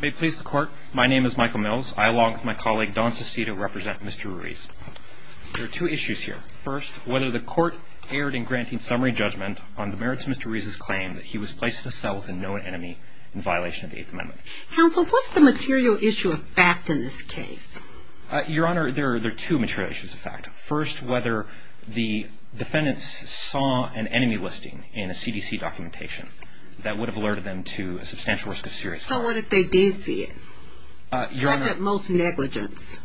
May it please the Court, my name is Michael Mills. I, along with my colleague Dawn Sestito, represent Mr. Ruiz. There are two issues here. First, whether the Court erred in granting summary judgment on the merits of Mr. Ruiz's claim that he was placed at a cell with a known enemy in violation of the Eighth Amendment. Counsel, what's the material issue of fact in this case? Your Honor, there are two material issues of fact. First, whether the defendants saw an enemy listing in a CDC documentation that would have alerted them to a substantial risk of serious harm. So what if they did see it? That's at most negligence,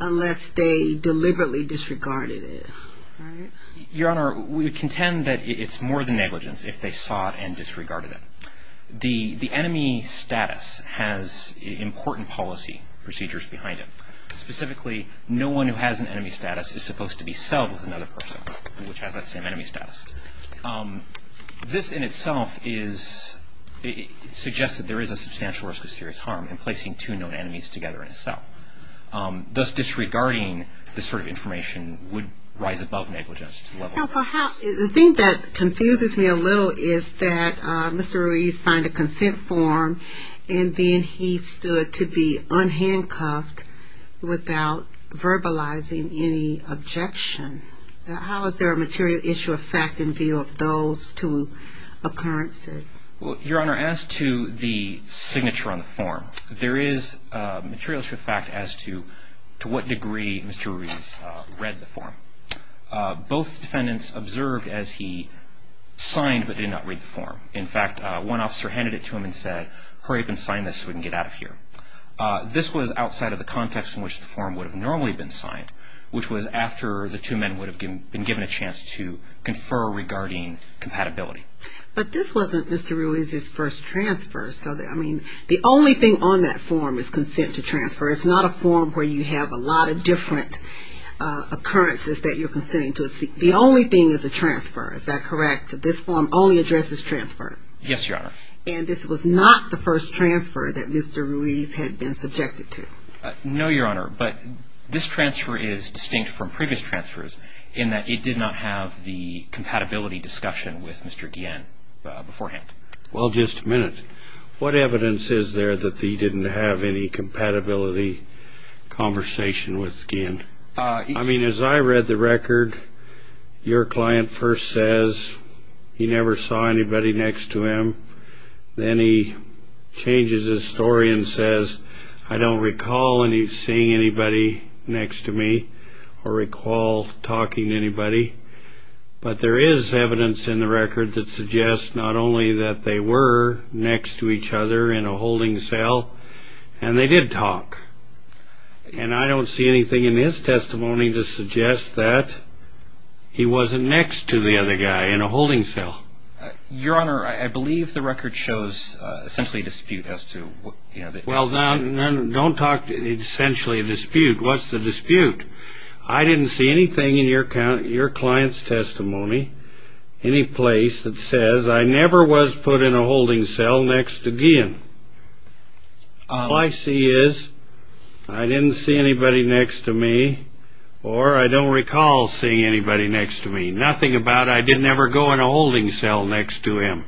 unless they deliberately disregarded it, right? Your Honor, we contend that it's more than negligence if they saw it and disregarded it. The enemy status has important policy procedures behind it. Specifically, no one who has an enemy status is supposed to be celled with another person, which has that same enemy status. This in itself suggests that there is a substantial risk of serious harm in placing two known enemies together in a cell. Thus, disregarding this sort of information would rise above negligence to the level of negligence. Counsel, the thing that confuses me a little is that Mr. Ruiz signed a consent form and then he stood to be unhandcuffed without verbalizing any objection. How is there a material issue of fact in view of those two occurrences? Your Honor, as to the signature on the form, there is a material issue of fact as to what degree Mr. Ruiz read the form. Both defendants observed as he signed but did not read the form. In fact, one officer handed it to him and said, hurry up and sign this so we can get out of here. This was outside of the context in which the form would have normally been signed, which was after the two men would have been given a chance to confer regarding compatibility. But this wasn't Mr. Ruiz's first transfer. I mean, the only thing on that form is consent to transfer. It's not a form where you have a lot of different occurrences that you're consenting to. The only thing is a transfer. Is that correct? This form only addresses transfer. Yes, Your Honor. And this was not the first transfer that Mr. Ruiz had been subjected to. No, Your Honor. But this transfer is distinct from previous transfers in that it did not have the compatibility discussion with Mr. Guillen beforehand. Well, just a minute. What evidence is there that he didn't have any compatibility conversation with Guillen? I mean, as I read the record, your client first says he never saw anybody next to him. Then he changes his story and says, I don't recall seeing anybody next to me or recall talking to anybody. But there is evidence in the record that suggests not only that they were next to each other in a holding cell, and they did talk. And I don't see anything in his testimony to suggest that he wasn't next to the other guy in a holding cell. Your Honor, I believe the record shows essentially a dispute as to what, you know. Well, don't talk essentially a dispute. What's the dispute? I didn't see anything in your client's testimony, any place, that says I never was put in a holding cell next to Guillen. All I see is I didn't see anybody next to me or I don't recall seeing anybody next to me. Nothing about I didn't ever go in a holding cell next to him.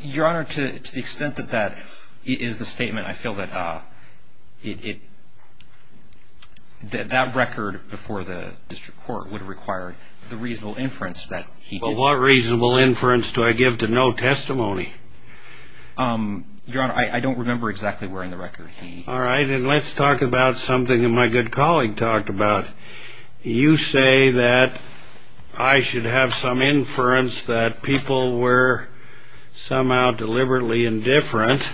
Your Honor, to the extent that that is the statement, I feel that that record before the district court would require the reasonable inference that he did. But what reasonable inference do I give to no testimony? Your Honor, I don't remember exactly where in the record he. All right. And let's talk about something that my good colleague talked about. You say that I should have some inference that people were somehow deliberately indifferent.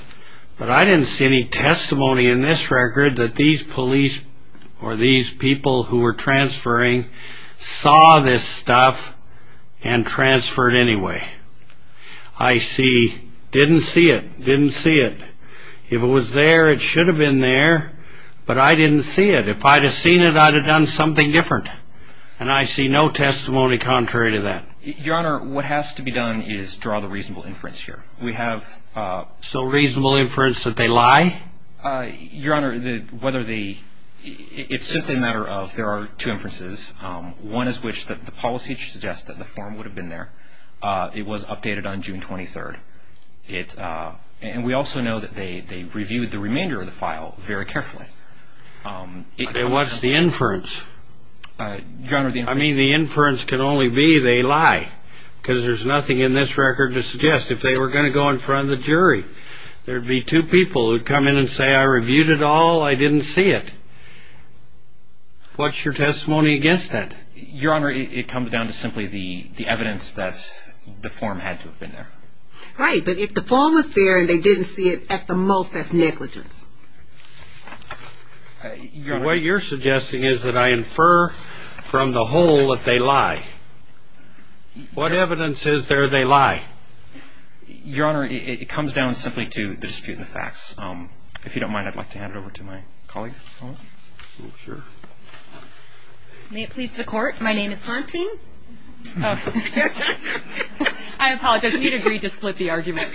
But I didn't see any testimony in this record that these police or these people who were transferring saw this stuff and transferred anyway. I see. Didn't see it. Didn't see it. If it was there, it should have been there. But I didn't see it. If I'd have seen it, I'd have done something different. And I see no testimony contrary to that. Your Honor, what has to be done is draw the reasonable inference here. We have. So reasonable inference that they lie? Your Honor, whether the. It's simply a matter of there are two inferences. One is which the policy suggests that the form would have been there. It was updated on June 23rd. And we also know that they reviewed the remainder of the file very carefully. What's the inference? Your Honor. I mean, the inference can only be they lie because there's nothing in this record to suggest if they were going to go in front of the jury. There'd be two people who'd come in and say, I reviewed it all. I didn't see it. What's your testimony against that? Your Honor, it comes down to simply the evidence that the form had to have been there. Right. But if the form was there and they didn't see it at the most, that's negligence. What you're suggesting is that I infer from the whole that they lie. What evidence is there they lie? If you don't mind, I'd like to hand it over to my colleague. Sure. May it please the Court. My name is. I apologize. You need to agree to split the argument.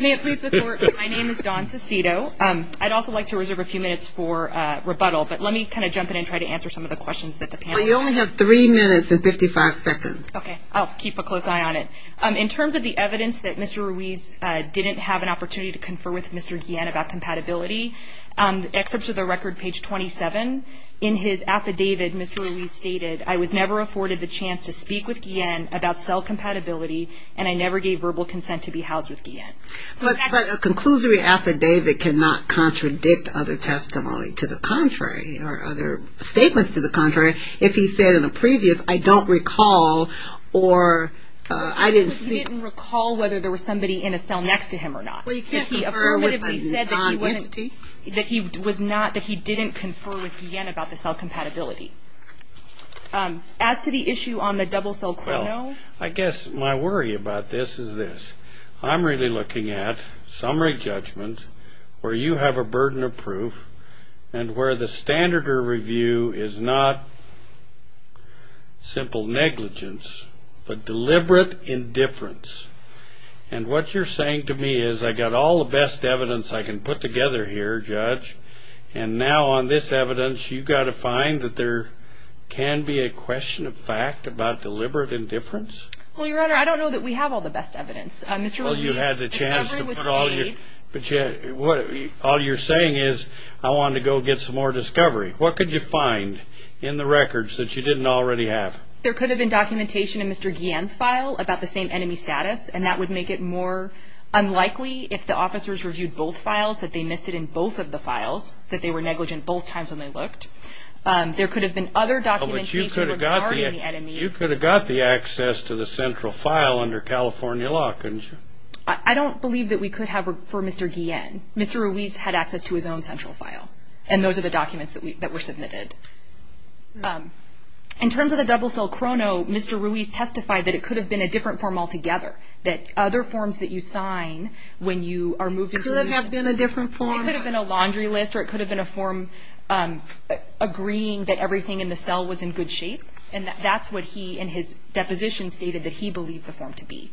May it please the Court. My name is Dawn Sestito. I'd also like to reserve a few minutes for rebuttal. But let me kind of jump in and try to answer some of the questions that the panel has. You only have three minutes and 55 seconds. Okay. I'll keep a close eye on it. In terms of the evidence that Mr. Ruiz didn't have an opportunity to confer with Mr. Guillen about compatibility, except for the record, page 27, in his affidavit, Mr. Ruiz stated, I was never afforded the chance to speak with Guillen about cell compatibility and I never gave verbal consent to be housed with Guillen. But a conclusory affidavit cannot contradict other testimony to the contrary or other statements to the contrary. If he said in a previous, I don't recall or I didn't see. He didn't recall whether there was somebody in a cell next to him or not. He affirmatively said that he didn't confer with Guillen about the cell compatibility. As to the issue on the double cell chrono. Well, I guess my worry about this is this. I'm really looking at summary judgments where you have a burden of proof and where the standard of review is not simple negligence but deliberate indifference. And what you're saying to me is I got all the best evidence I can put together here, Judge, and now on this evidence you've got to find that there can be a question of fact about deliberate indifference? Well, Your Honor, I don't know that we have all the best evidence. Mr. Ruiz's discovery was saved. All you're saying is I wanted to go get some more discovery. What could you find in the records that you didn't already have? There could have been documentation in Mr. Guillen's file about the same enemy status, and that would make it more unlikely if the officers reviewed both files that they missed it in both of the files, that they were negligent both times when they looked. There could have been other documentation regarding the enemy. You could have got the access to the central file under California law, couldn't you? I don't believe that we could have for Mr. Guillen. Mr. Ruiz had access to his own central file, and those are the documents that were submitted. In terms of the double-cell chrono, Mr. Ruiz testified that it could have been a different form altogether, that other forms that you sign when you are moved as a user could have been a laundry list or it could have been a form agreeing that everything in the cell was in good shape, and that's what he in his deposition stated that he believed the form to be.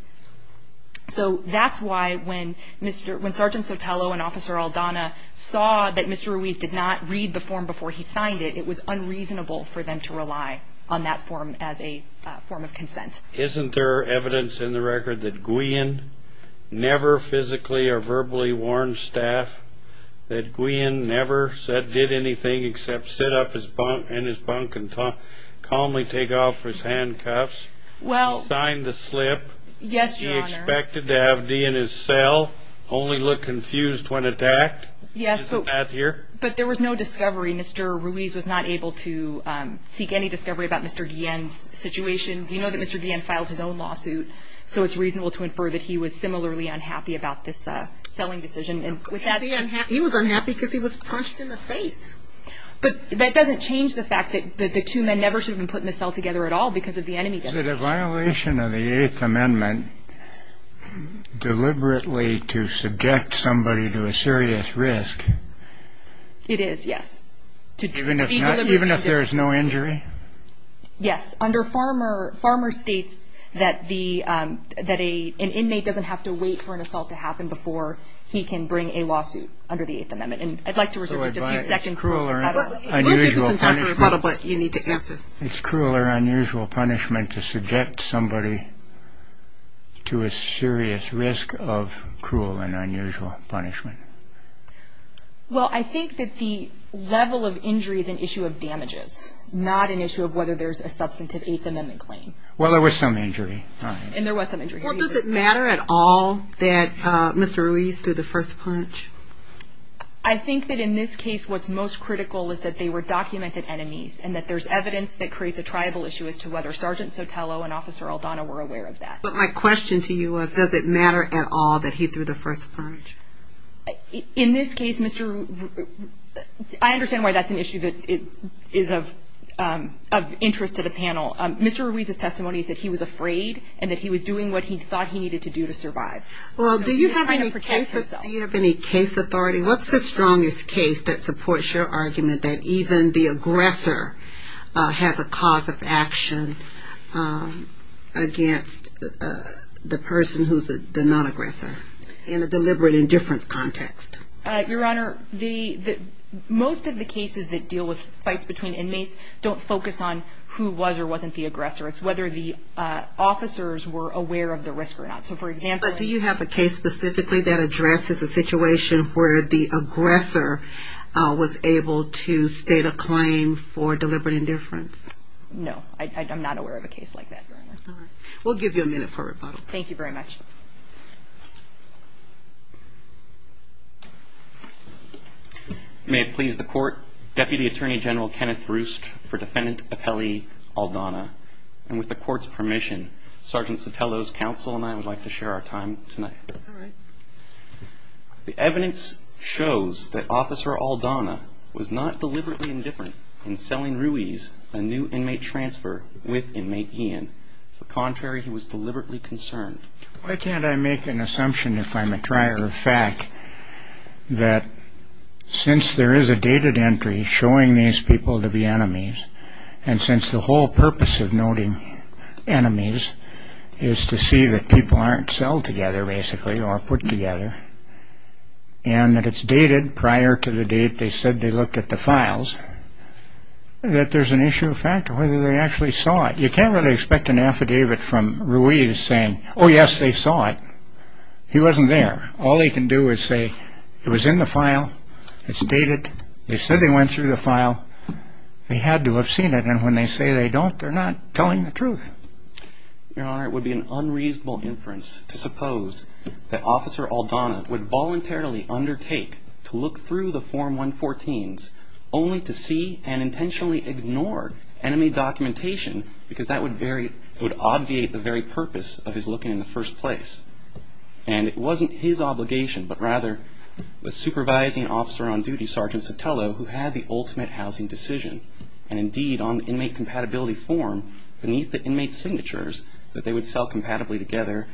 So that's why when Sergeant Sotelo and Officer Aldana saw that Mr. Ruiz did not read the form before he signed it, it was unreasonable for them to rely on that form as a form of consent. Isn't there evidence in the record that Guillen never physically or verbally warned staff, that Guillen never did anything except sit up in his bunk and calmly take off his handcuffs, sign the slip? Yes, Your Honor. He expected to have D in his cell, only look confused when attacked? Yes. Isn't that here? But there was no discovery. Mr. Ruiz was not able to seek any discovery about Mr. Guillen's situation. You know that Mr. Guillen filed his own lawsuit, so it's reasonable to infer that he was similarly unhappy about this selling decision. He was unhappy because he was punched in the face. But that doesn't change the fact that the two men never should have been put in the cell together at all because of the enemy. Is it a violation of the Eighth Amendment deliberately to subject somebody to a serious risk? It is, yes. Even if there is no injury? Yes. Under Farmer, Farmer states that an inmate doesn't have to wait for an assault to happen before he can bring a lawsuit under the Eighth Amendment. And I'd like to reserve a few seconds. It's cruel or unusual punishment to subject somebody to a serious risk of cruel and unusual punishment. Well, I think that the level of injury is an issue of damages, not an issue of whether there's a substantive Eighth Amendment claim. Well, there was some injury. And there was some injury. Well, does it matter at all that Mr. Ruiz threw the first punch? I think that in this case what's most critical is that they were documented enemies and that there's evidence that creates a tribal issue as to whether Sergeant Sotelo and Officer Aldana were aware of that. But my question to you was, does it matter at all that he threw the first punch? In this case, Mr. Ruiz, I understand why that's an issue that is of interest to the panel. Mr. Ruiz's testimony is that he was afraid and that he was doing what he thought he needed to do to survive. Well, do you have any case authority? What's the strongest case that supports your argument that even the aggressor has a cause of action against the person who's the non-aggressor in a deliberate indifference context? Your Honor, most of the cases that deal with fights between inmates don't focus on who was or wasn't the aggressor. It's whether the officers were aware of the risk or not. Do you have a case specifically that addresses a situation where the aggressor was able to state a claim for deliberate indifference? No, I'm not aware of a case like that, Your Honor. We'll give you a minute for rebuttal. Thank you very much. May it please the Court, Deputy Attorney General Kenneth Roost for Defendant Apelli Aldana. And with the Court's permission, Sergeant Sotelo's counsel and I would like to share our time tonight. All right. The evidence shows that Officer Aldana was not deliberately indifferent in selling Ruiz a new inmate transfer with Inmate Guillen. On the contrary, he was deliberately concerned. Why can't I make an assumption if I'm a trier of fact that since there is a dated entry showing these people to be enemies and since the whole purpose of noting enemies is to see that people aren't sold together, basically, or put together, and that it's dated prior to the date they said they looked at the files, that there's an issue of fact of whether they actually saw it. You can't really expect an affidavit from Ruiz saying, oh, yes, they saw it. He wasn't there. All they can do is say it was in the file. They said they went through the file. They had to have seen it. And when they say they don't, they're not telling the truth. Your Honor, it would be an unreasonable inference to suppose that Officer Aldana would voluntarily undertake to look through the Form 114s only to see and intentionally ignore enemy documentation because that would obviate the very purpose of his looking in the first place. And it wasn't his obligation, but rather the supervising officer on duty, Sergeant Sotelo, who had the ultimate housing decision. And indeed, on the inmate compatibility form, beneath the inmate signatures that they would sell compatibly together,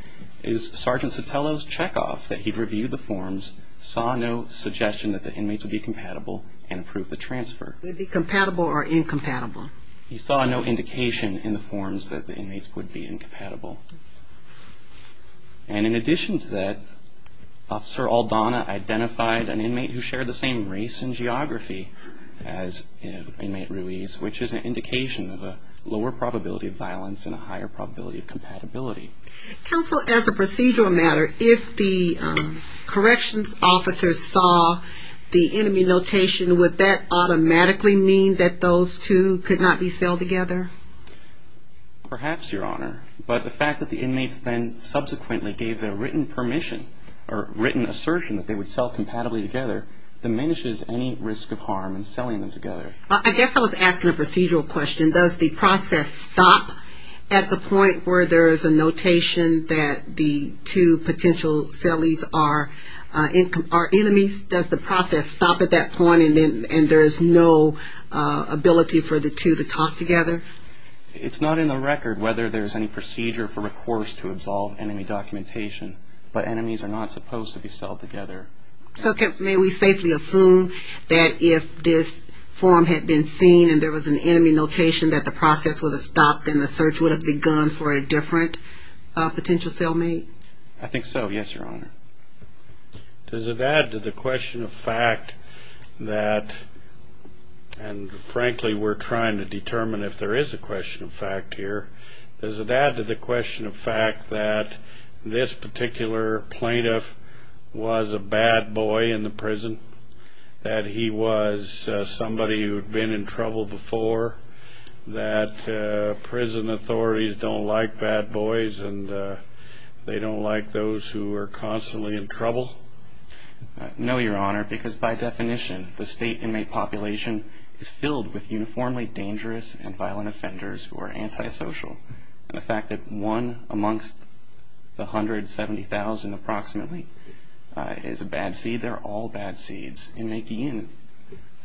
is Sergeant Sotelo's checkoff that he'd reviewed the forms, saw no suggestion that the inmates would be compatible, and approved the transfer. Would it be compatible or incompatible? He saw no indication in the forms that the inmates would be incompatible. And in addition to that, Officer Aldana identified an inmate who shared the same race and geography as Inmate Ruiz, which is an indication of a lower probability of violence and a higher probability of compatibility. Counsel, as a procedural matter, if the corrections officer saw the enemy notation, would that automatically mean that those two could not be sold together? Perhaps, Your Honor. But the fact that the inmates then subsequently gave the written permission or written assertion that they would sell compatibly together diminishes any risk of harm in selling them together. I guess I was asking a procedural question. Does the process stop at the point where there is a notation that the two potential sellies are enemies? Does the process stop at that point and there is no ability for the two to talk together? It's not in the record whether there's any procedure for recourse to absolve enemy documentation, but enemies are not supposed to be sold together. So may we safely assume that if this form had been seen and there was an enemy notation, that the process would have stopped and the search would have begun for a different potential sellmate? I think so, yes, Your Honor. Does it add to the question of fact that, and frankly we're trying to determine if there is a question of fact here, does it add to the question of fact that this particular plaintiff was a bad boy in the prison, that he was somebody who had been in trouble before, that prison authorities don't like bad boys and they don't like those who are constantly in trouble? No, Your Honor, because by definition the state inmate population is filled with uniformly dangerous and violent offenders who are antisocial. And the fact that one amongst the 170,000 approximately is a bad seed, they're all bad seeds.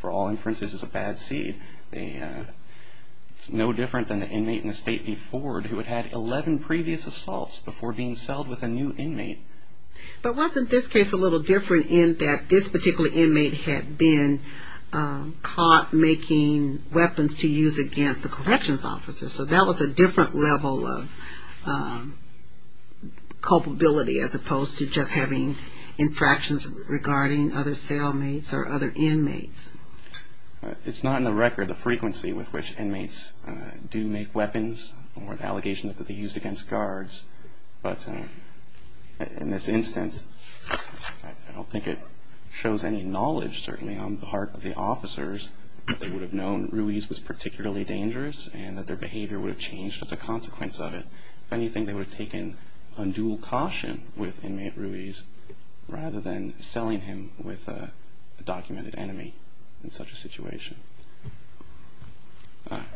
For all inferences, it's a bad seed. It's no different than the inmate in the state before who had had 11 previous assaults before being sold with a new inmate. But wasn't this case a little different in that this particular inmate had been caught making weapons to use against the corrections officer? So that was a different level of culpability as opposed to just having infractions regarding other assailants or other inmates. It's not in the record the frequency with which inmates do make weapons or the allegations that they used against guards. But in this instance, I don't think it shows any knowledge certainly on the part of the officers that they would have known Ruiz was particularly dangerous and that their behavior would have changed as a consequence of it. If anything, they would have taken undue caution with inmate Ruiz rather than selling him with a documented enemy in such a situation.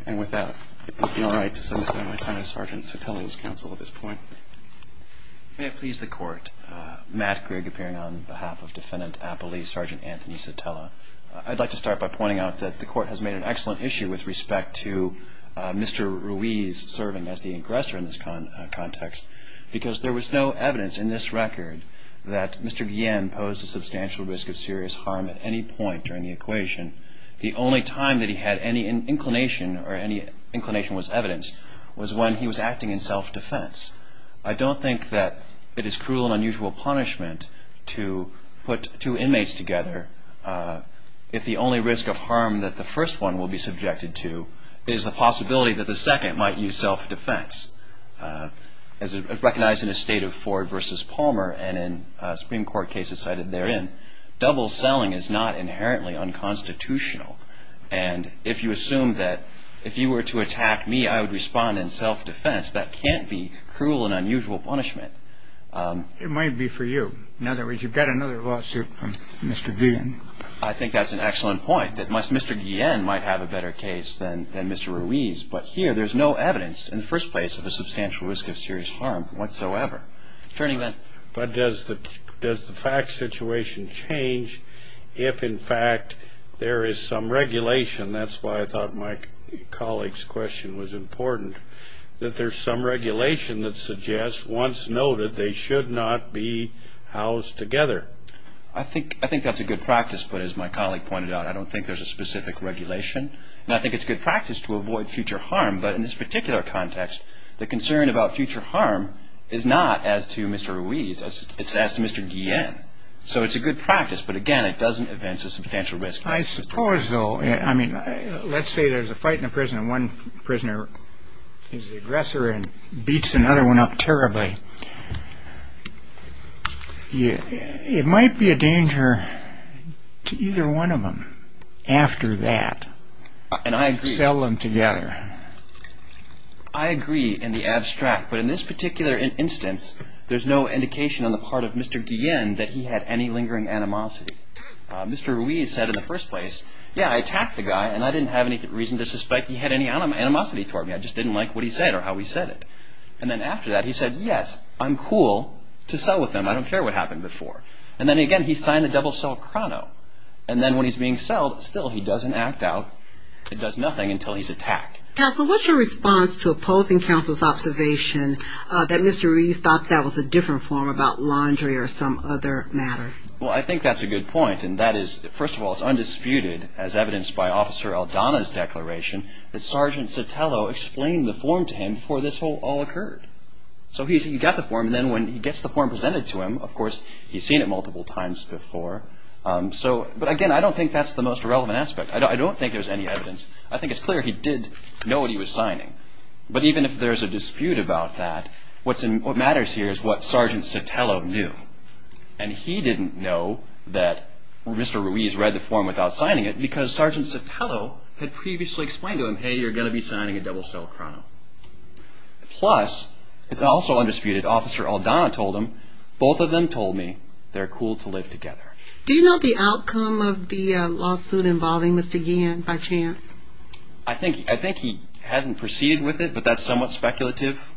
And with that, it would be all right to turn it over to Lieutenant Sergeant Sotelo's counsel at this point. May it please the Court, Matt Grigg appearing on behalf of Defendant Appley, Sergeant Anthony Sotelo. I'd like to start by pointing out that the Court has made an excellent issue with respect to Mr. Ruiz serving as the aggressor in this context because there was no evidence in this record that Mr. Guillen posed a substantial risk of serious harm at any point during the equation. The only time that he had any inclination or any inclination was evidenced was when he was acting in self-defense. I don't think that it is cruel and unusual punishment to put two inmates together if the only risk of harm that the first one will be self-defense. Recognized in a state of Ford v. Palmer and in Supreme Court cases cited therein, double selling is not inherently unconstitutional. And if you assume that if you were to attack me, I would respond in self-defense, that can't be cruel and unusual punishment. It might be for you. In other words, you've got another lawsuit from Mr. Guillen. I think that's an excellent point, that Mr. Guillen might have a better case than Mr. Ruiz. But here, there's no evidence in the first place of a substantial risk of serious harm whatsoever. Attorney, then. But does the fact situation change if, in fact, there is some regulation? That's why I thought my colleague's question was important, that there's some regulation that suggests, once noted, they should not be housed together. I think that's a good practice, but as my colleague pointed out, I don't think there's a specific regulation. And I think it's good practice to avoid future harm. But in this particular context, the concern about future harm is not as to Mr. Ruiz. It's as to Mr. Guillen. So it's a good practice, but, again, it doesn't advance a substantial risk. I suppose, though. I mean, let's say there's a fight in a prison and one prisoner is the aggressor and beats another one up terribly. It might be a danger to either one of them after that to sell them together. I agree in the abstract. But in this particular instance, there's no indication on the part of Mr. Guillen that he had any lingering animosity. Mr. Ruiz said in the first place, yeah, I attacked the guy, and I didn't have any reason to suspect he had any animosity toward me. I just didn't like what he said or how he said it. And then after that, he said, yes, I'm cool to sell with him. I don't care what happened before. And then, again, he signed the double-sell chrono. And then when he's being sold, still, he doesn't act out. He does nothing until he's attacked. Counsel, what's your response to opposing counsel's observation that Mr. Ruiz thought that was a different form about laundry or some other matter? Well, I think that's a good point, and that is, first of all, it's undisputed, as evidenced by Officer Aldana's declaration, that Sergeant Sotelo explained the form to him before this all occurred. So he got the form, and then when he gets the form presented to him, of course, he's seen it multiple times before. But, again, I don't think that's the most relevant aspect. I don't think there's any evidence. I think it's clear he did know what he was signing. But even if there's a dispute about that, what matters here is what Sergeant Sotelo knew. And he didn't know that Mr. Ruiz read the form without signing it, because Sergeant Sotelo had previously explained to him, hey, you're going to be signing a double-sell chrono. Plus, it's also undisputed, Officer Aldana told him, both of them told me they're cool to live together. Do you know the outcome of the lawsuit involving Mr. Guillen, by chance? I think he hasn't proceeded with it, but that's somewhat speculative.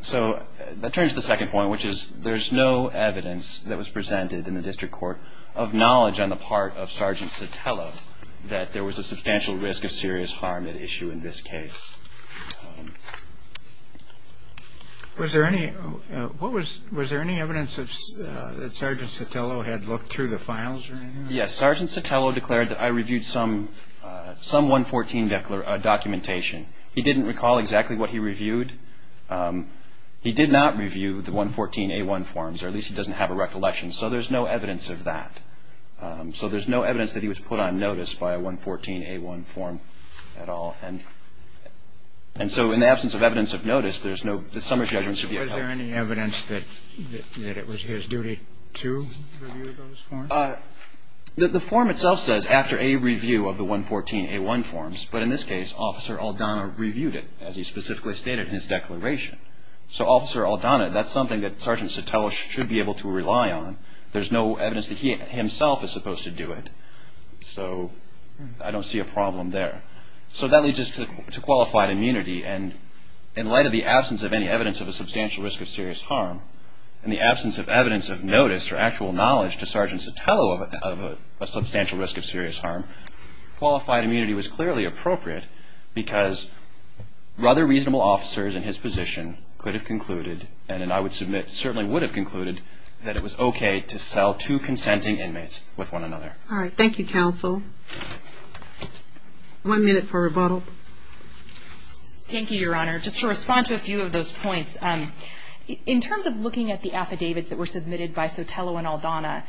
So that turns to the second point, which is there's no evidence that was presented in the district court of knowledge on the part of Sergeant Sotelo that there was a substantial risk of serious harm at issue in this case. Was there any evidence that Sergeant Sotelo had looked through the files or anything? Yes. Sergeant Sotelo declared that I reviewed some of the files. I reviewed some 114 documentation. He didn't recall exactly what he reviewed. He did not review the 114A1 forms, or at least he doesn't have a recollection. So there's no evidence of that. So there's no evidence that he was put on notice by a 114A1 form at all. And so in the absence of evidence of notice, there's no – the summary judgment should be held. Was there any evidence that it was his duty to review those forms? The form itself says after a review of the 114A1 forms. But in this case, Officer Aldana reviewed it, as he specifically stated in his declaration. So Officer Aldana, that's something that Sergeant Sotelo should be able to rely on. There's no evidence that he himself is supposed to do it. So I don't see a problem there. So that leads us to qualified immunity. And in light of the absence of any evidence of a substantial risk of serious harm, in the absence of evidence of notice or actual knowledge to Sergeant Sotelo of a substantial risk of serious harm, qualified immunity was clearly appropriate because rather reasonable officers in his position could have concluded, and I would submit certainly would have concluded, that it was okay to sell two consenting inmates with one another. All right. Thank you, Counsel. One minute for rebuttal. Thank you, Your Honor. Just to respond to a few of those points. In terms of looking at the affidavits that were submitted by Sotelo and Aldana,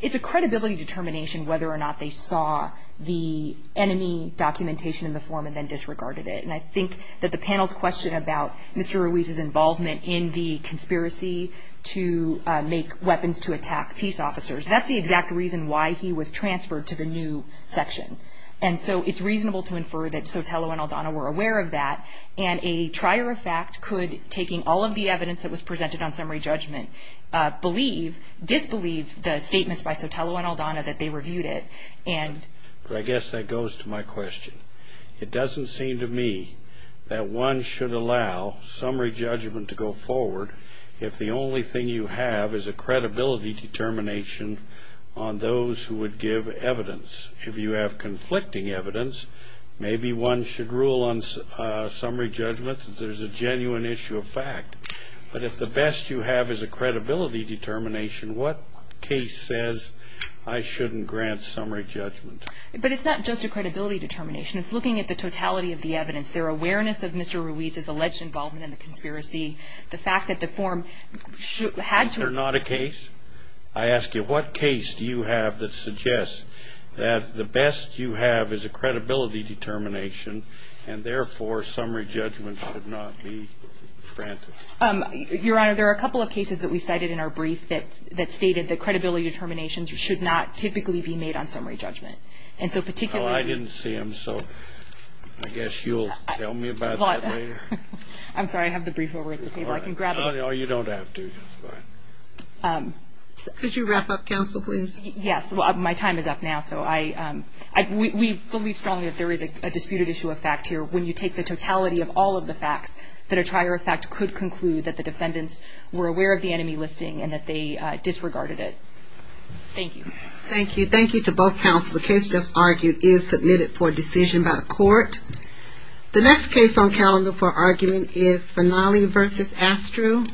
it's a credibility determination whether or not they saw the enemy documentation in the form and then disregarded it. And I think that the panel's question about Mr. Ruiz's involvement in the conspiracy to make weapons to attack peace officers, that's the exact reason why he was transferred to the new section. And so it's reasonable to infer that Sotelo and Aldana were aware of that. And a trier of fact could, taking all of the evidence that was presented on summary judgment, believe, disbelieve the statements by Sotelo and Aldana that they reviewed it. I guess that goes to my question. It doesn't seem to me that one should allow summary judgment to go forward if the only thing you have is a credibility determination on those who would give evidence. If you have conflicting evidence, maybe one should rule on summary judgment that there's a genuine issue of fact. But if the best you have is a credibility determination, what case says I shouldn't grant summary judgment? But it's not just a credibility determination. It's looking at the totality of the evidence, their awareness of Mr. Ruiz's alleged involvement in the conspiracy, the fact that the form had to... Was there not a case? I ask you, what case do you have that suggests that the best you have is a credibility determination and therefore summary judgment should not be granted? Your Honor, there are a couple of cases that we cited in our brief that stated that credibility determinations should not typically be made on summary judgment. And so particularly... Oh, I didn't see them, so I guess you'll tell me about that later. I'm sorry. I have the brief over at the table. I can grab it. Oh, you don't have to. Could you wrap up, counsel, please? Yes. Well, my time is up now, so I... We believe strongly that there is a disputed issue of fact here. When you take the totality of all of the facts, that a trier of fact could conclude that the defendants were aware of the enemy listing and that they disregarded it. Thank you. Thank you. Thank you to both counsel. The case just argued is submitted for decision by the court. The next case on calendar for argument is Finale v. Astruz.